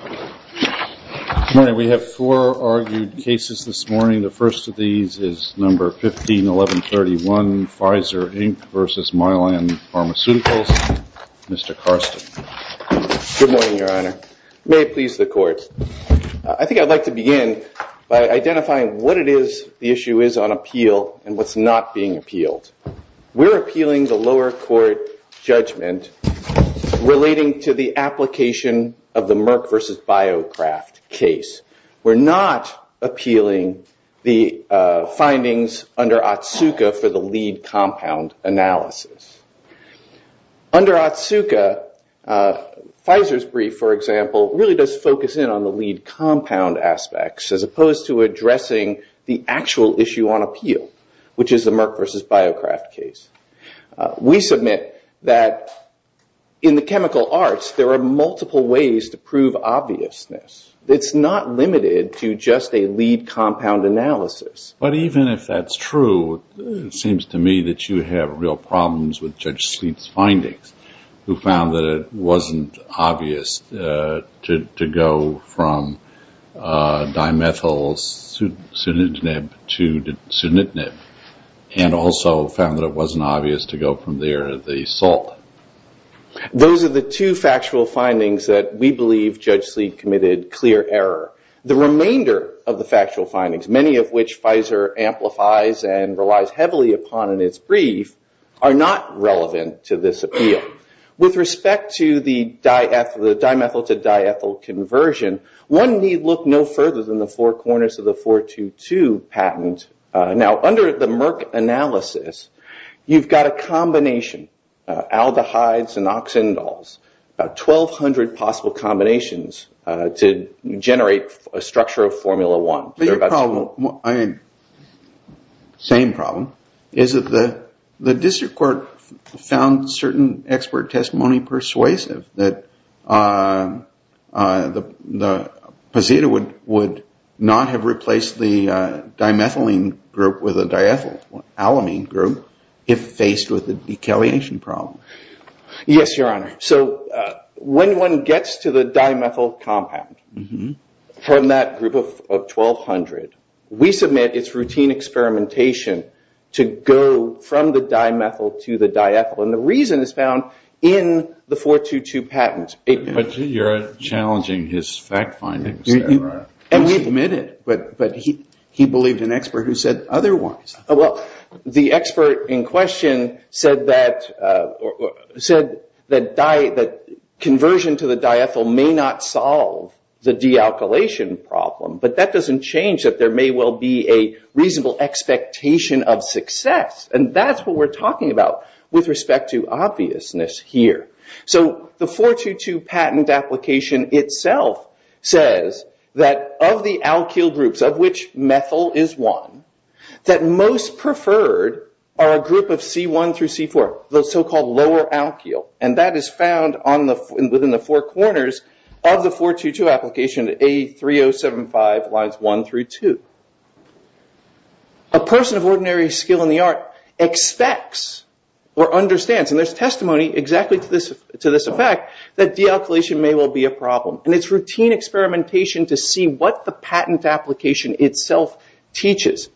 Good morning. We have four argued cases this morning. The first of these is number 151131, Pfizer Inc. v. Mylan Pharmaceuticals. Mr. Karsten. Good morning, Your Honor. May it please the court. I think I'd like to begin by identifying what it is the issue is on appeal and what's not being appealed. We're appealing the lower court judgment relating to the application of the Merck v. BioCraft case. We're not appealing the findings under Otsuka for the lead compound analysis. Under Otsuka, Pfizer's brief, for example, really does focus in on the lead compound aspects as opposed to addressing the actual issue on appeal, which is the Merck v. BioCraft case. We submit that in the chemical arts, there are multiple ways to prove obviousness. It's not limited to just a lead compound analysis. But even if that's true, it seems to me that you have real problems with Judge Sleet's findings, who found that it wasn't obvious to go from dimethylsunitinib to sunitinib and also found that it wasn't obvious to go from there to the salt. Those are the two factual findings that we believe Judge Sleet committed clear error. The remainder of the factual findings, many of which Pfizer amplifies and relies heavily upon in its brief, are not relevant to this appeal. With respect to the dimethyl to diethyl conversion, one need look no further than the four corners of the 422 patent. Now, under the Merck analysis, you've got a combination, aldehydes and oxindols, about 1,200 possible combinations to generate a structure of formula one. But your problem, same problem, is that the district court found certain expert testimony persuasive, that the procedure would not have replaced the dimethylene group with a diethylalamine group if faced with a decalation problem. Yes, Your Honor. So when one gets to the dimethyl compound from that group of 1,200, we submit its routine experimentation to go from the dimethyl to the diethyl. And the reason is found in the 422 patent. But you're challenging his fact findings there, right? And we admit it. But he believed an expert who said otherwise. Well, the expert in question said that conversion to the diethyl may not solve the dealkylation problem. But that doesn't change that there may well be a reasonable expectation of success. And that's what we're talking about with respect to obviousness here. So the 422 patent application itself says that of the alkyl groups, of which methyl is one, that most preferred are a group of C1 through C4, the so-called lower alkyl. And that is found within the four corners of the 422 application, A3075 lines 1 through 2. A person of ordinary skill in the art expects or understands, and there's testimony exactly to this effect, that dealkylation may well be a problem. And it's routine experimentation to see what the patent application itself teaches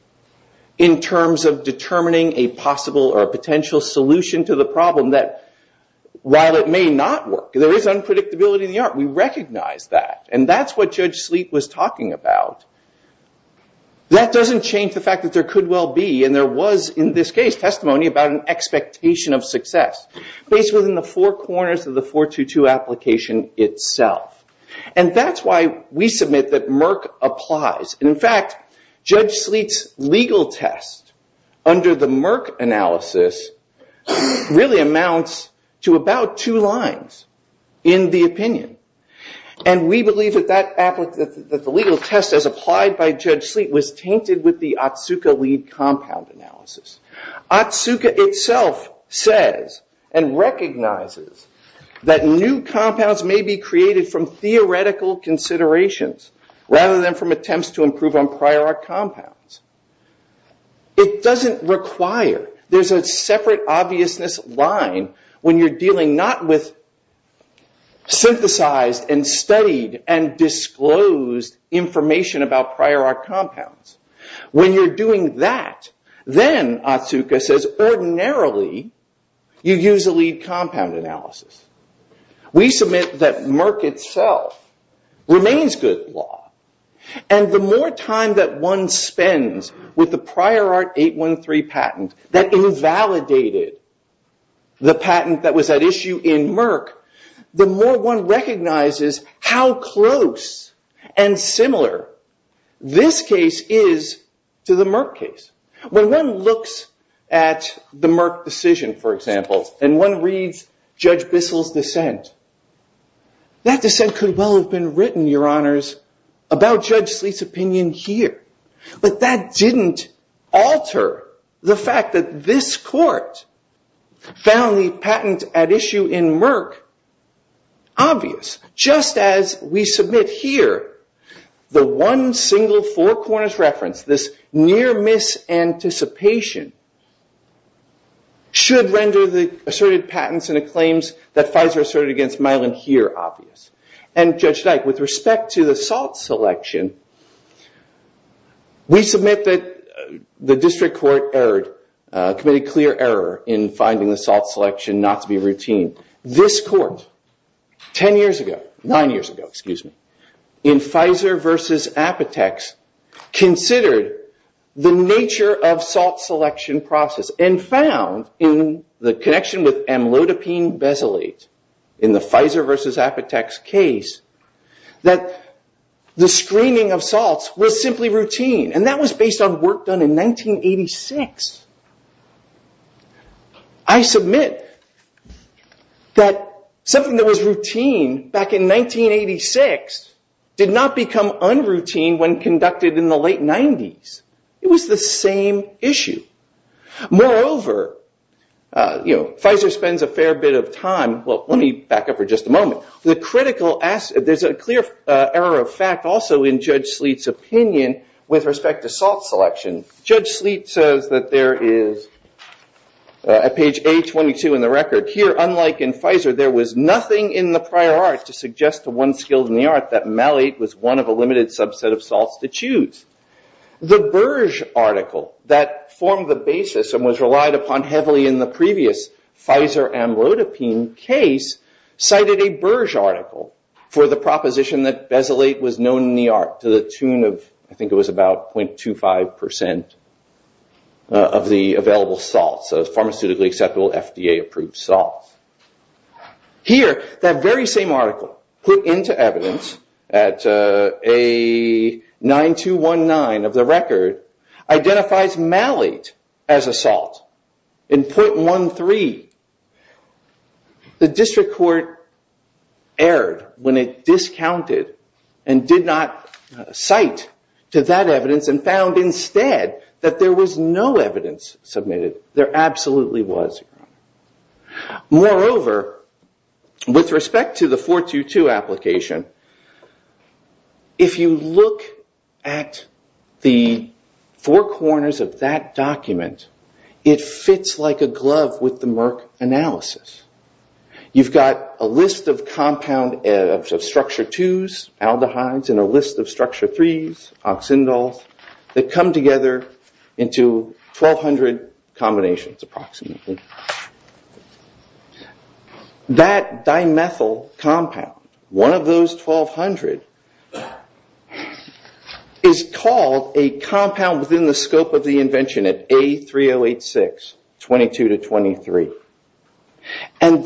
in terms of determining a possible or a potential solution to the problem that, while it may not work, there is unpredictability in the art. We recognize that. And that's what Judge Sleet was talking about. That doesn't change the fact that there could well be, and there was in this case, testimony about an expectation of success based within the four corners of the 422 application itself. And that's why we submit that Merck applies. And in fact, Judge Sleet's legal test under the Merck analysis really amounts to about two lines in the opinion. And we believe that the legal test as applied by Judge Sleet was tainted with the Otsuka lead compound analysis. Otsuka itself says and recognizes that new compounds may be created from theoretical considerations rather than from attempts to improve on prior art compounds. It doesn't require. There's a separate obviousness line when you're dealing not with synthesized and studied and disclosed information about prior art compounds. When you're doing that, then Otsuka says ordinarily you use a lead compound analysis. We submit that Merck itself remains good law. And the more time that one spends with the prior art 813 patent that invalidated the patent that was at issue in Merck, the more one recognizes how close and similar this case is to the Merck case. When one looks at the Merck decision, for example, and one reads Judge Bissell's dissent, that dissent could well have been written, Your Honors, about Judge Sleet's opinion here. But that didn't alter the fact that this court found the patent at issue in Merck obvious. Just as we submit here, the one single four corners reference, this near miss anticipation, should render the asserted patents and the claims that Pfizer asserted against Myelin here obvious. And Judge Dyke, with respect to the salt selection, we submit that the district court committed clear error in finding the salt selection not to be routine. This court, 10 years ago, nine years ago, excuse me, in Pfizer versus Apotex, considered the nature of salt selection process and found, in the connection with amlodipine basalate, in the Pfizer versus Apotex case, that the screening of salts was simply routine. And that was based on work done in 1986. I submit that something that was routine back in 1986 did not become unroutine when conducted in the late 90s. It was the same issue. Moreover, Pfizer spends a fair bit of time. Well, let me back up for just a moment. There's a clear error of fact also in Judge Sleet's opinion with respect to salt selection. Judge Sleet says that there is, at page A22 in the record, here, unlike in Pfizer, there was nothing in the prior art to suggest to one skilled in the art that malate was one of a limited subset of salts to choose. The Burge article that formed the basis and was relied upon heavily in the previous Pfizer amlodipine case cited a Burge article for the proposition that basalate was known in the art to the tune of, I think it was about 0.25% of the available salts, pharmaceutically acceptable FDA-approved salts. Here, that very same article put into evidence at A9219 of the record, identifies malate as a salt in 0.13. The district court erred when it discounted and did not cite to that evidence and found instead that there was no evidence submitted. There absolutely was. Moreover, with respect to the 422 application, if you look at the four corners of that document, it fits like a glove with the Merck analysis. You've got a list of compound structure 2's, aldehydes, and a list of structure 3's, oxindols, that come together into 1,200 combinations, approximately. That dimethyl compound, one of those 1,200, is called a compound within the scope of the invention at A3086, 22 to 23. Saying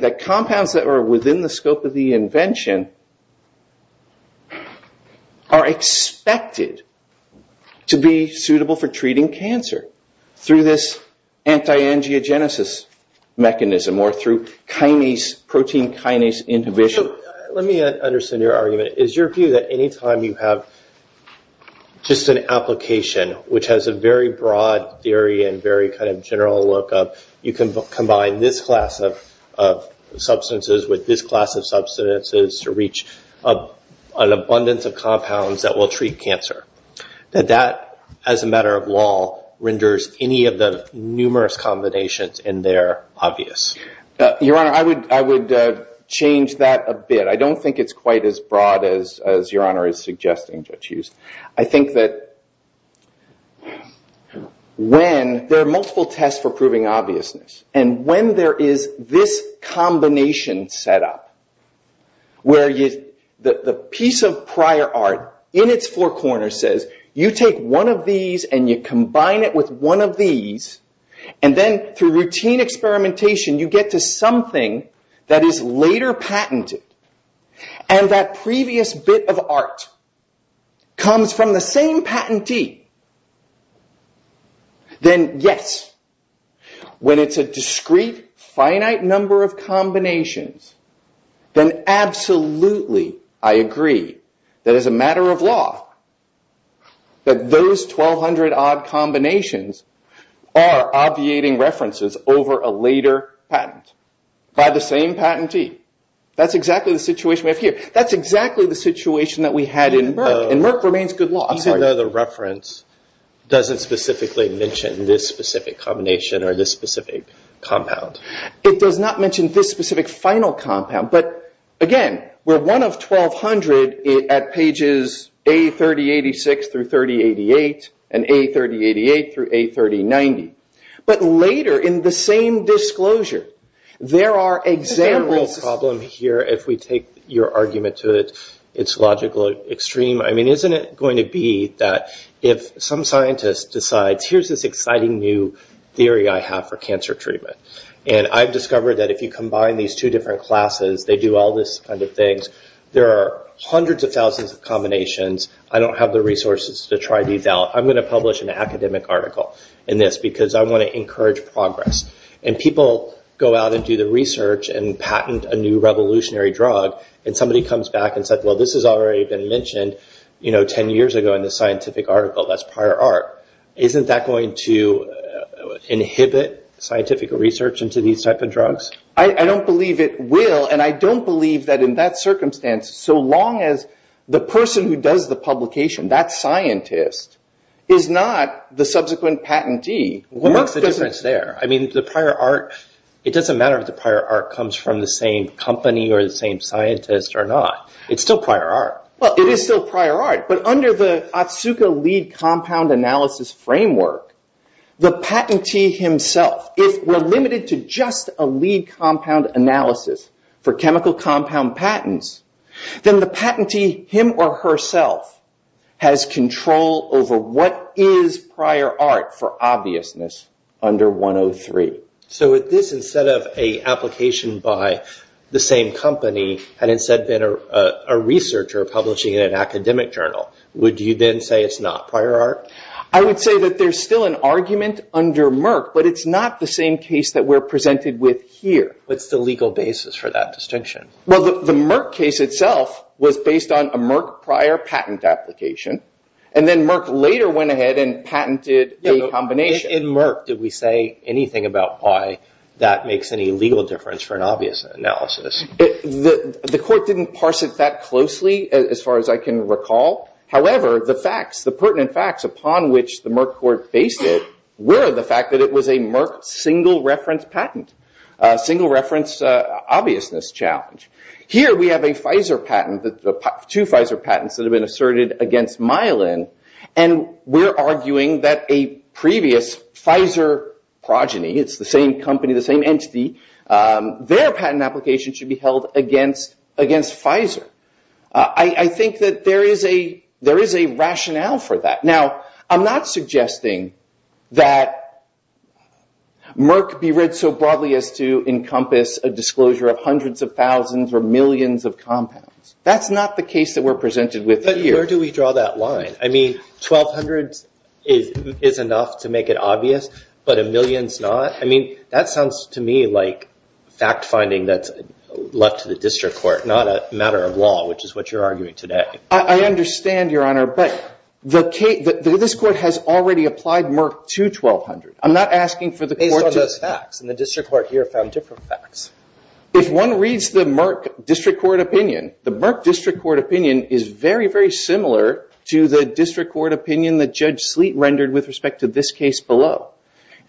that compounds that are within the scope of the invention are expected to be suitable for treating cancer through this anti-angiogenesis mechanism or through protein kinase inhibition. Let me understand your argument. Is your view that any time you have just an application which has a very broad theory and very general look of you can combine this class of substances with this class of substances to reach an abundance of compounds that will treat cancer, that that, as a matter of law, renders any of the numerous combinations in there obvious? Your Honor, I would change that a bit. I don't think it's quite as broad as Your Honor is suggesting, Judge Hughes. I think that when there are multiple tests for proving obviousness, and when there is this combination set up, where the piece of prior art in its four corners says, you take one of these and you combine it with one of these, and then through routine experimentation you get to something that is later patented, and that previous bit of art comes from the same patentee, then yes, when it's a discrete, finite number of combinations, then absolutely I agree that as a matter of law that those 1,200 odd combinations are obviating references over a later patent by the same patentee. That's exactly the situation we have here. That's exactly the situation that we had in Merck, and Merck remains good law. I know the reference doesn't specifically mention this specific combination or this specific compound. It does not mention this specific final compound. But again, we're one of 1,200 at pages A3086 through 3088, and A3088 through A3090. But later, in the same disclosure, there are examples of problem here, if we take your argument to its logical extreme. I mean, isn't it going to be that if some scientist decides, here's this exciting new theory I have for cancer treatment, and I've discovered that if you combine these two different classes, they do all this kind of things, there are hundreds of thousands of combinations. I don't have the resources to try these out. I'm going to publish an academic article in this, because I want to encourage progress. And people go out and do the research and patent a new revolutionary drug, and somebody comes back and says, well, this has already been mentioned 10 years ago in this scientific article that's prior art. Isn't that going to inhibit scientific research into these type of drugs? I don't believe it will, and I don't believe that in that circumstance, so long as the person who does the publication, that scientist, is not the subsequent patentee. What's the difference there? I mean, the prior art, it doesn't matter if the prior art comes from the same company or the same scientist or not. It's still prior art. Well, it is still prior art. But under the Otsuka lead compound analysis framework, the patentee himself, if we're limited to just a lead compound analysis for chemical compound patents, then the patentee, him or herself, has control over what is prior art for obviousness under 103. So if this, instead of a application by the same company, had instead been a researcher publishing in an academic journal, would you then say it's not prior art? I would say that there's still an argument under Merck, but it's not the same case that we're presented with here. What's the legal basis for that distinction? Well, the Merck case itself was based on a Merck prior patent application, and then Merck later went ahead and patented a combination. In Merck, did we say anything about why that makes any legal difference for an obvious analysis? The court didn't parse it that closely, as far as I can recall. However, the facts, the pertinent facts upon which the Merck court based it were the fact that it was a Merck single reference patent, single reference obviousness challenge. Here, we have a Pfizer patent, two Pfizer patents that have been asserted against myelin, and we're arguing that a previous Pfizer progeny, it's the same company, the same entity, their patent application should be held against Pfizer. I think that there is a rationale for that. Now, I'm not suggesting that Merck be read so broadly as to encompass a disclosure of hundreds of thousands or millions of compounds. That's not the case that we're presented with here. Where do we draw that line? 1,200 is enough to make it obvious, but a million's not? That sounds to me like fact finding that's left to the district court, not a matter of law, which is what you're arguing today. I understand, Your Honor, but this court has already applied Merck to 1,200. I'm not asking for the court to- Based on those facts. And the district court here found different facts. If one reads the Merck district court opinion, the Merck district court opinion is very, very similar to the district court opinion that Judge Sleet rendered with respect to this case below.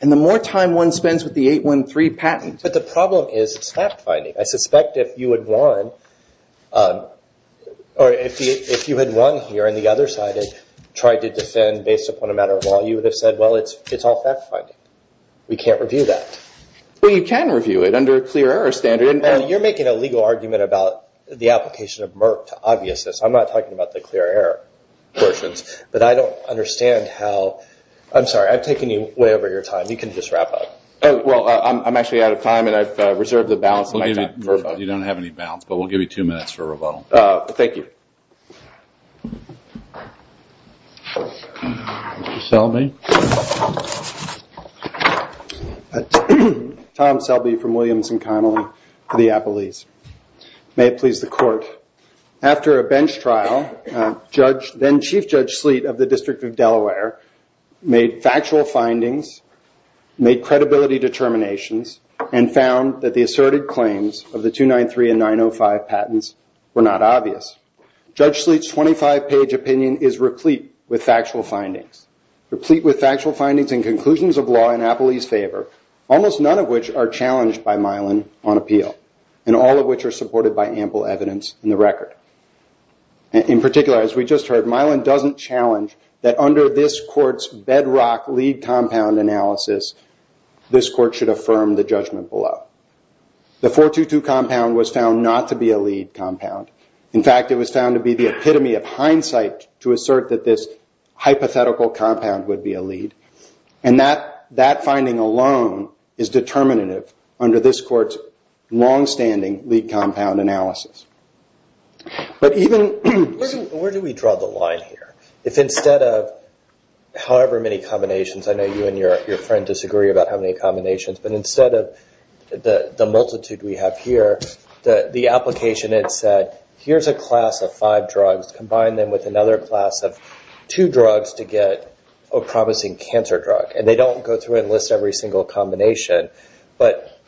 And the more time one spends with the 813 patent- But the problem is it's fact finding. I suspect if you had won here on the other side and tried to defend based upon a matter of law, you would have said, well, it's all fact finding. We can't review that. Well, you can review it under a clear error standard. You're making a legal argument about the application of Merck to obviousness. I'm not talking about the clear error portions. But I don't understand how- I'm sorry. I've taken you way over your time. You can just wrap up. Well, I'm actually out of time. And I've reserved the balance of my time for a vote. You don't have any balance. But we'll give you two minutes for a rebuttal. Thank you. Selby. Tom Selby from Williams and Connolly for the Appalese. May it please the court. After a bench trial, then-Chief Judge Sleet of the District of Delaware made factual findings, made credibility determinations, and found that the asserted claims of the 293 and 905 patents were not obvious. Judge Sleet's 25-page opinion is replete with factual findings. Replete with factual findings and conclusions of law in Appalese favor, almost none of which are challenged by Milan on appeal, and all of which are supported by ample evidence in the record. In particular, as we just heard, Milan doesn't challenge that under this court's bedrock lead compound analysis, this court should affirm the judgment below. The 422 compound was found not to be a lead compound. In fact, it was found to be the epitome of hindsight to assert that this hypothetical compound would be a lead. And that finding alone is determinative under this court's longstanding lead compound analysis. But even- Where do we draw the line here? If instead of however many combinations, I know you and your friend disagree about how many combinations, but instead of the multitude we have here, the application had said, here's a class of five drugs, combine them with another class of two drugs to get a promising cancer drug. And they don't go through and list every single combination. But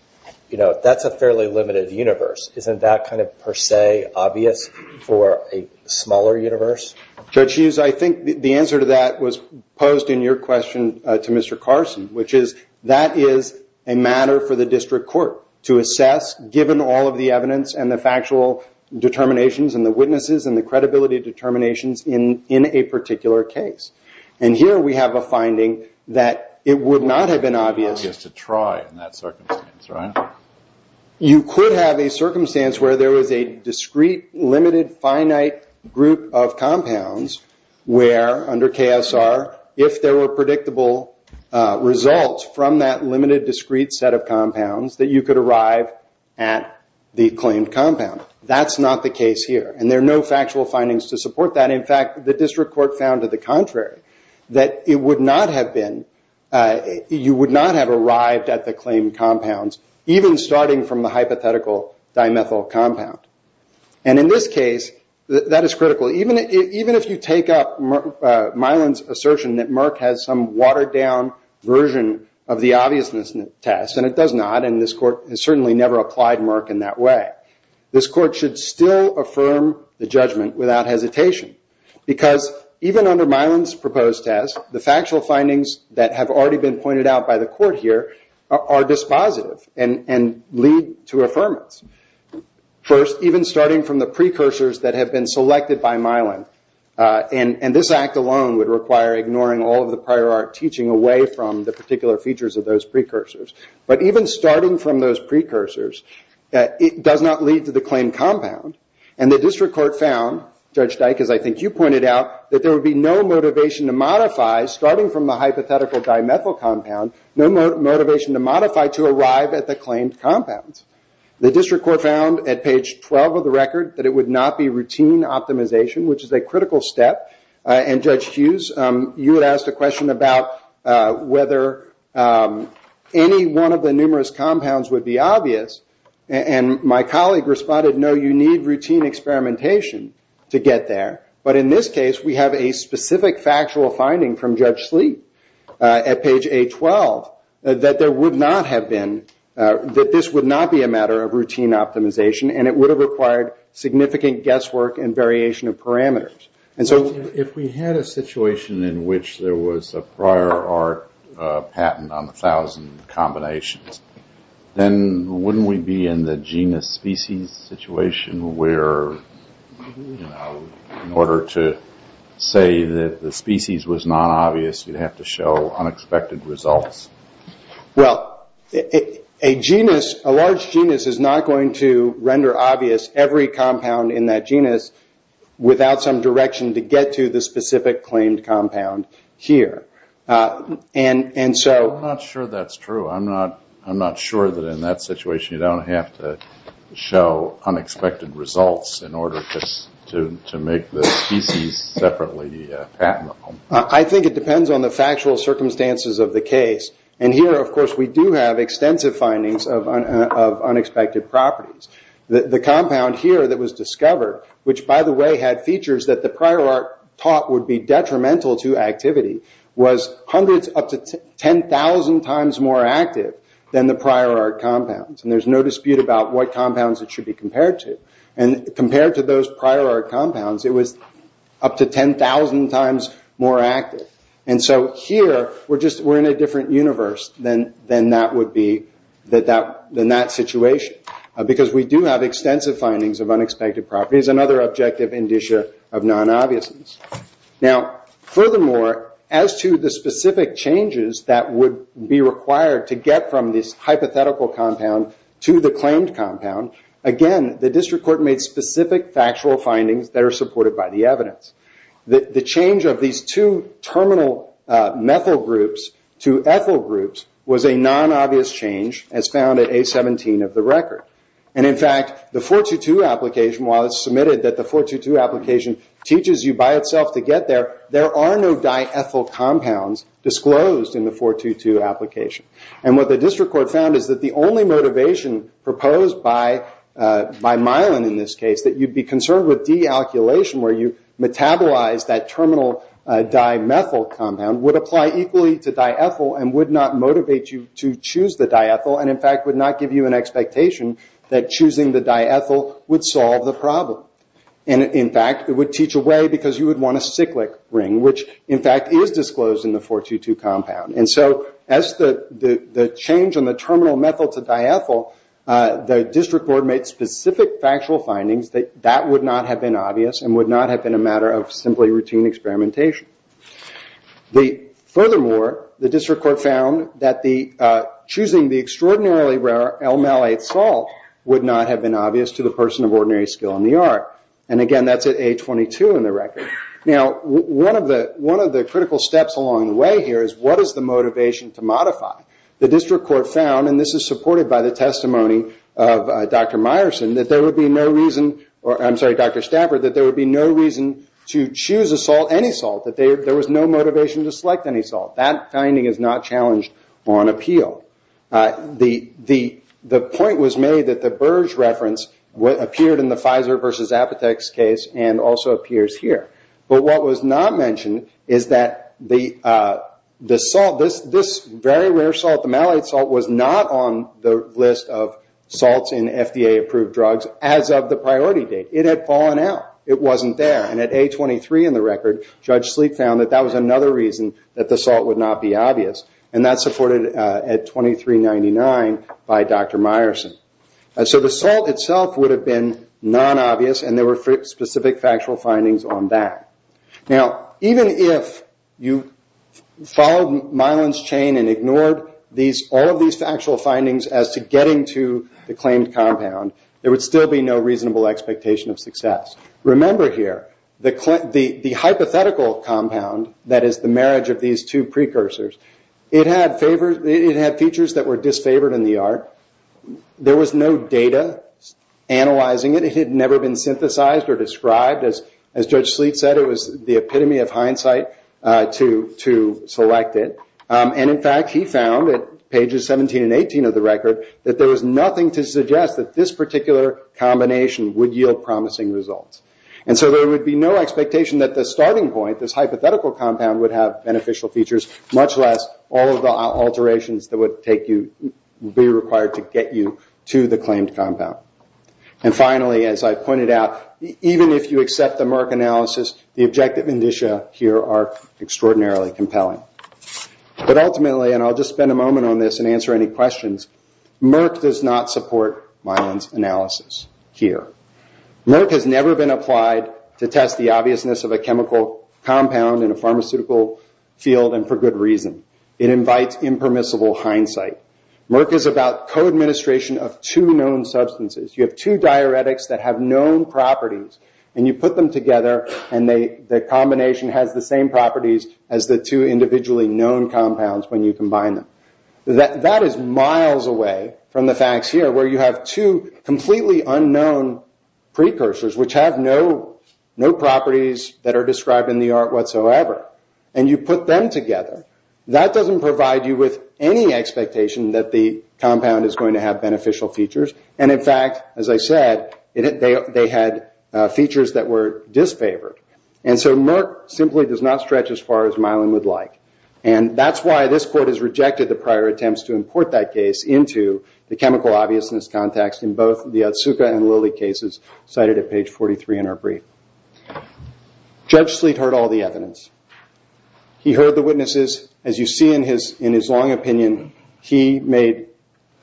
that's a fairly limited universe. Isn't that per se obvious for a smaller universe? Judge Hughes, I think the answer to that was posed in your question to Mr. Carson, which is that is a matter for the district court to assess, given all of the evidence and the factual determinations and the witnesses and the credibility determinations in a particular case. And here we have a finding that it would not have been obvious- In that circumstance, right? You could have a circumstance where there was a discrete, limited, finite group of compounds where, under KSR, if there were predictable results from that limited, discrete set of compounds, that you could arrive at the claimed compound. That's not the case here. And there are no factual findings to support that. In fact, the district court found to the contrary, that it would not have been- claim compounds, even starting from the hypothetical dimethyl compound. And in this case, that is critical. Even if you take up Mylan's assertion that Merck has some watered-down version of the obviousness test, and it does not, and this court has certainly never applied Merck in that way, this court should still affirm the judgment without hesitation. Because even under Mylan's proposed test, the factual findings that have already been pointed out by the court here are dispositive and lead to affirmance. First, even starting from the precursors that have been selected by Mylan, and this act alone would require ignoring all of the prior art teaching away from the particular features of those precursors. But even starting from those precursors, it does not lead to the claimed compound. And the district court found, Judge Dyck, as I think you pointed out, that there would be no motivation to modify, starting from the hypothetical dimethyl compound, no motivation to modify to arrive at the claimed compounds. The district court found at page 12 of the record that it would not be routine optimization, which is a critical step. And Judge Hughes, you had asked a question about whether any one of the numerous compounds would be obvious. And my colleague responded, no, you need routine experimentation to get there. But in this case, we have a specific factual finding from Judge Sleet at page A12 that there would not have been, that this would not be a matter of routine optimization. And it would have required significant guesswork and variation of parameters. And so if we had a situation in which there was a prior art patent on 1,000 combinations, then wouldn't we be in the genus species situation where, in order to say that the species was non-obvious, you'd have to show unexpected results? Well, a large genus is not going to render obvious every compound in that genus without some direction to get to the specific claimed compound here. And so I'm not sure that's true. I'm not sure that in that situation you don't have to show unexpected results in order to make the species separately patentable. I think it depends on the factual circumstances of the case. And here, of course, we do have extensive findings of unexpected properties. The compound here that was discovered, which, by the way, had features that the prior art taught would be detrimental to activity, was hundreds, up to 10,000 times more active than the prior art compounds. And there's no dispute about what compounds it should be compared to. And compared to those prior art compounds, it was up to 10,000 times more active. And so here, we're in a different universe than that situation, because we do have extensive findings of unexpected properties, another objective indicia of non-obviousness. Now, furthermore, as to the specific changes that would be required to get from this hypothetical compound to the claimed compound, again, the district court made specific factual findings that are supported by the evidence. The change of these two terminal methyl groups to ethyl groups was a non-obvious change, as found at A17 of the record. And in fact, the 422 application, while it's submitted that the 422 application teaches you by itself to get there, there are no diethyl compounds disclosed in the 422 application. And what the district court found is that the only motivation proposed by Mylan in this case, that you'd be concerned with dealkylation, where you metabolize that terminal dimethyl compound, would apply equally to diethyl, and would not motivate you to choose the diethyl, and in fact, would not give you an expectation that choosing the diethyl would solve the problem. And in fact, it would teach away, because you would want a cyclic ring, which in fact, is disclosed in the 422 compound. And so as the change in the terminal methyl to diethyl, the district court made specific factual findings that that would not have been obvious, and would not have been a matter of simply routine experimentation. Furthermore, the district court found that choosing the extraordinarily rare L-malate salt would not have been obvious to the person of ordinary skill in the art. And again, that's at A22 in the record. Now, one of the critical steps along the way here is, what is the motivation to modify? The district court found, and this is supported by the testimony of Dr. Stafford, that there would be no reason to choose any salt, that there was no motivation to select any salt. That finding is not challenged on appeal. The point was made that the Burge reference appeared in the Pfizer versus Apotex case, and also appears here. But what was not mentioned is that the salt, this very rare salt, the malate salt, was not on the list of salts in FDA-approved drugs as of the priority date. It had fallen out. It wasn't there. And at A23 in the record, Judge Sleep found that that was another reason that the salt would not be obvious. And that's supported at 2399 by Dr. Meyerson. So the salt itself would have been non-obvious, and there were specific factual findings on that. Now, even if you followed Mylan's chain and ignored all of these factual findings as to getting to the claimed compound, there would still be no reasonable expectation of success. Remember here, the hypothetical compound, that is the marriage of these two precursors, it had features that were disfavored in the art. There was no data analyzing it. It had never been synthesized or described. As Judge Sleep said, it was the epitome of hindsight to select it. And in fact, he found, at pages 17 and 18 of the record, that there was nothing to suggest that this particular combination would yield promising results. And so there would be no expectation that the starting point, this hypothetical compound, would have beneficial features, much less all of the alterations that would be required to get you to the claimed compound. And finally, as I pointed out, even if you accept the Merck analysis, the objective indicia here are extraordinarily compelling. But ultimately, and I'll just spend a moment on this and answer any questions, Merck does not support Mylan's analysis here. Merck has never been applied to test the obviousness of a chemical compound in a pharmaceutical field, and for good reason. It invites impermissible hindsight. Merck is about co-administration of two known substances. You have two diuretics that have known properties, and you put them together, and the combination has the same properties as the two individually known compounds when you combine them. That is miles away from the facts here, where you have two completely unknown precursors, which have no properties that are described in the art whatsoever. And you put them together. That doesn't provide you with any expectation that the compound is going to have beneficial features. And in fact, as I said, they had features that were disfavored. And so Merck simply does not stretch as far as Mylan would like. And that's why this court has rejected the prior attempts to import that case into the chemical obviousness context in both the Otsuka and Lilly cases cited at page 43 in our brief. Judge Sleet heard all the evidence. He heard the witnesses. As you see in his long opinion, he made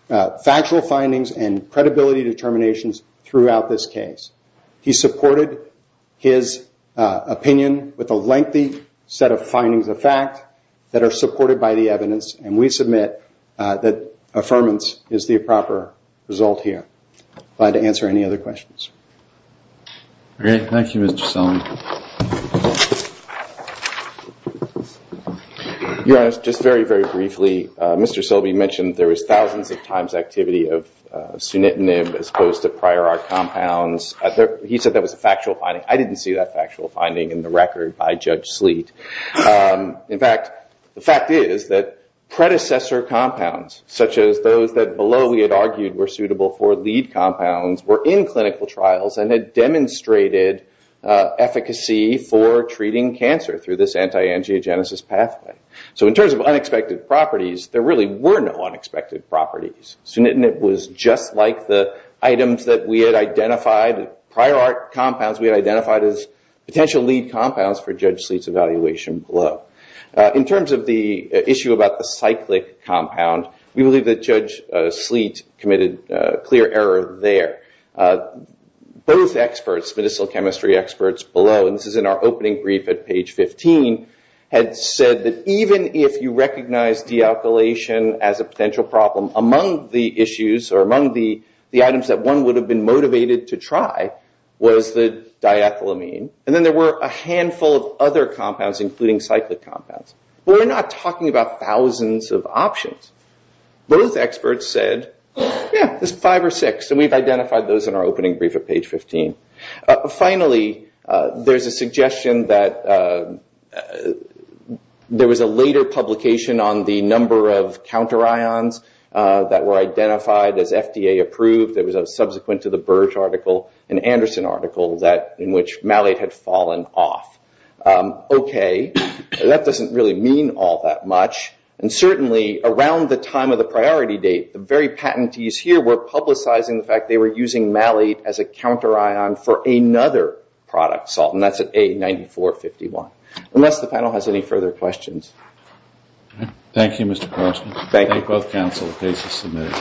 factual findings and credibility determinations throughout this case. He supported his opinion with a lengthy set of findings of fact that are supported by the evidence. And we submit that affirmance is the proper result here. Glad to answer any other questions. Great. Thank you, Mr. Silbey. Your Honor, just very, very briefly, Mr. Silbey mentioned there was thousands of times activity of sunitinib as opposed to prior art compounds. He said that was a factual finding. I didn't see that factual finding in the record by Judge Sleet. In fact, the fact is that predecessor compounds, such as those that below we had argued were suitable for lead compounds, were in clinical trials and had demonstrated efficacy for treating cancer through this antiangiogenesis pathway. So in terms of unexpected properties, there really were no unexpected properties. Sunitinib was just like the items that we had identified, prior art compounds we had identified as potential lead compounds for Judge Sleet's evaluation below. In terms of the issue about the cyclic compound, we believe that Judge Sleet committed a clear error there. Both experts, medicinal chemistry experts below, and this is in our opening brief at page 15, had said that even if you recognize dealkylation as a potential problem, among the issues or among the items that one would have been motivated to try was the diethylamine. And then there were a handful of other compounds, including cyclic compounds. We're not talking about thousands of options. Both experts said, yeah, there's five or six. And we've identified those in our opening brief at page 15. Finally, there's a suggestion that there was a later publication on the number of counterions that were identified as FDA approved. There was a subsequent to the Birch article, an Anderson article, in which malate had fallen off. OK, that doesn't really mean all that much. And certainly, around the time of the priority date, the very patentees here were publicizing the fact they were using malate as a counterion for another product, salt. And that's at A9451. Unless the panel has any further questions. Thank you, Mr. Parsons. Thank you. Thank both counsel, the case is submitted.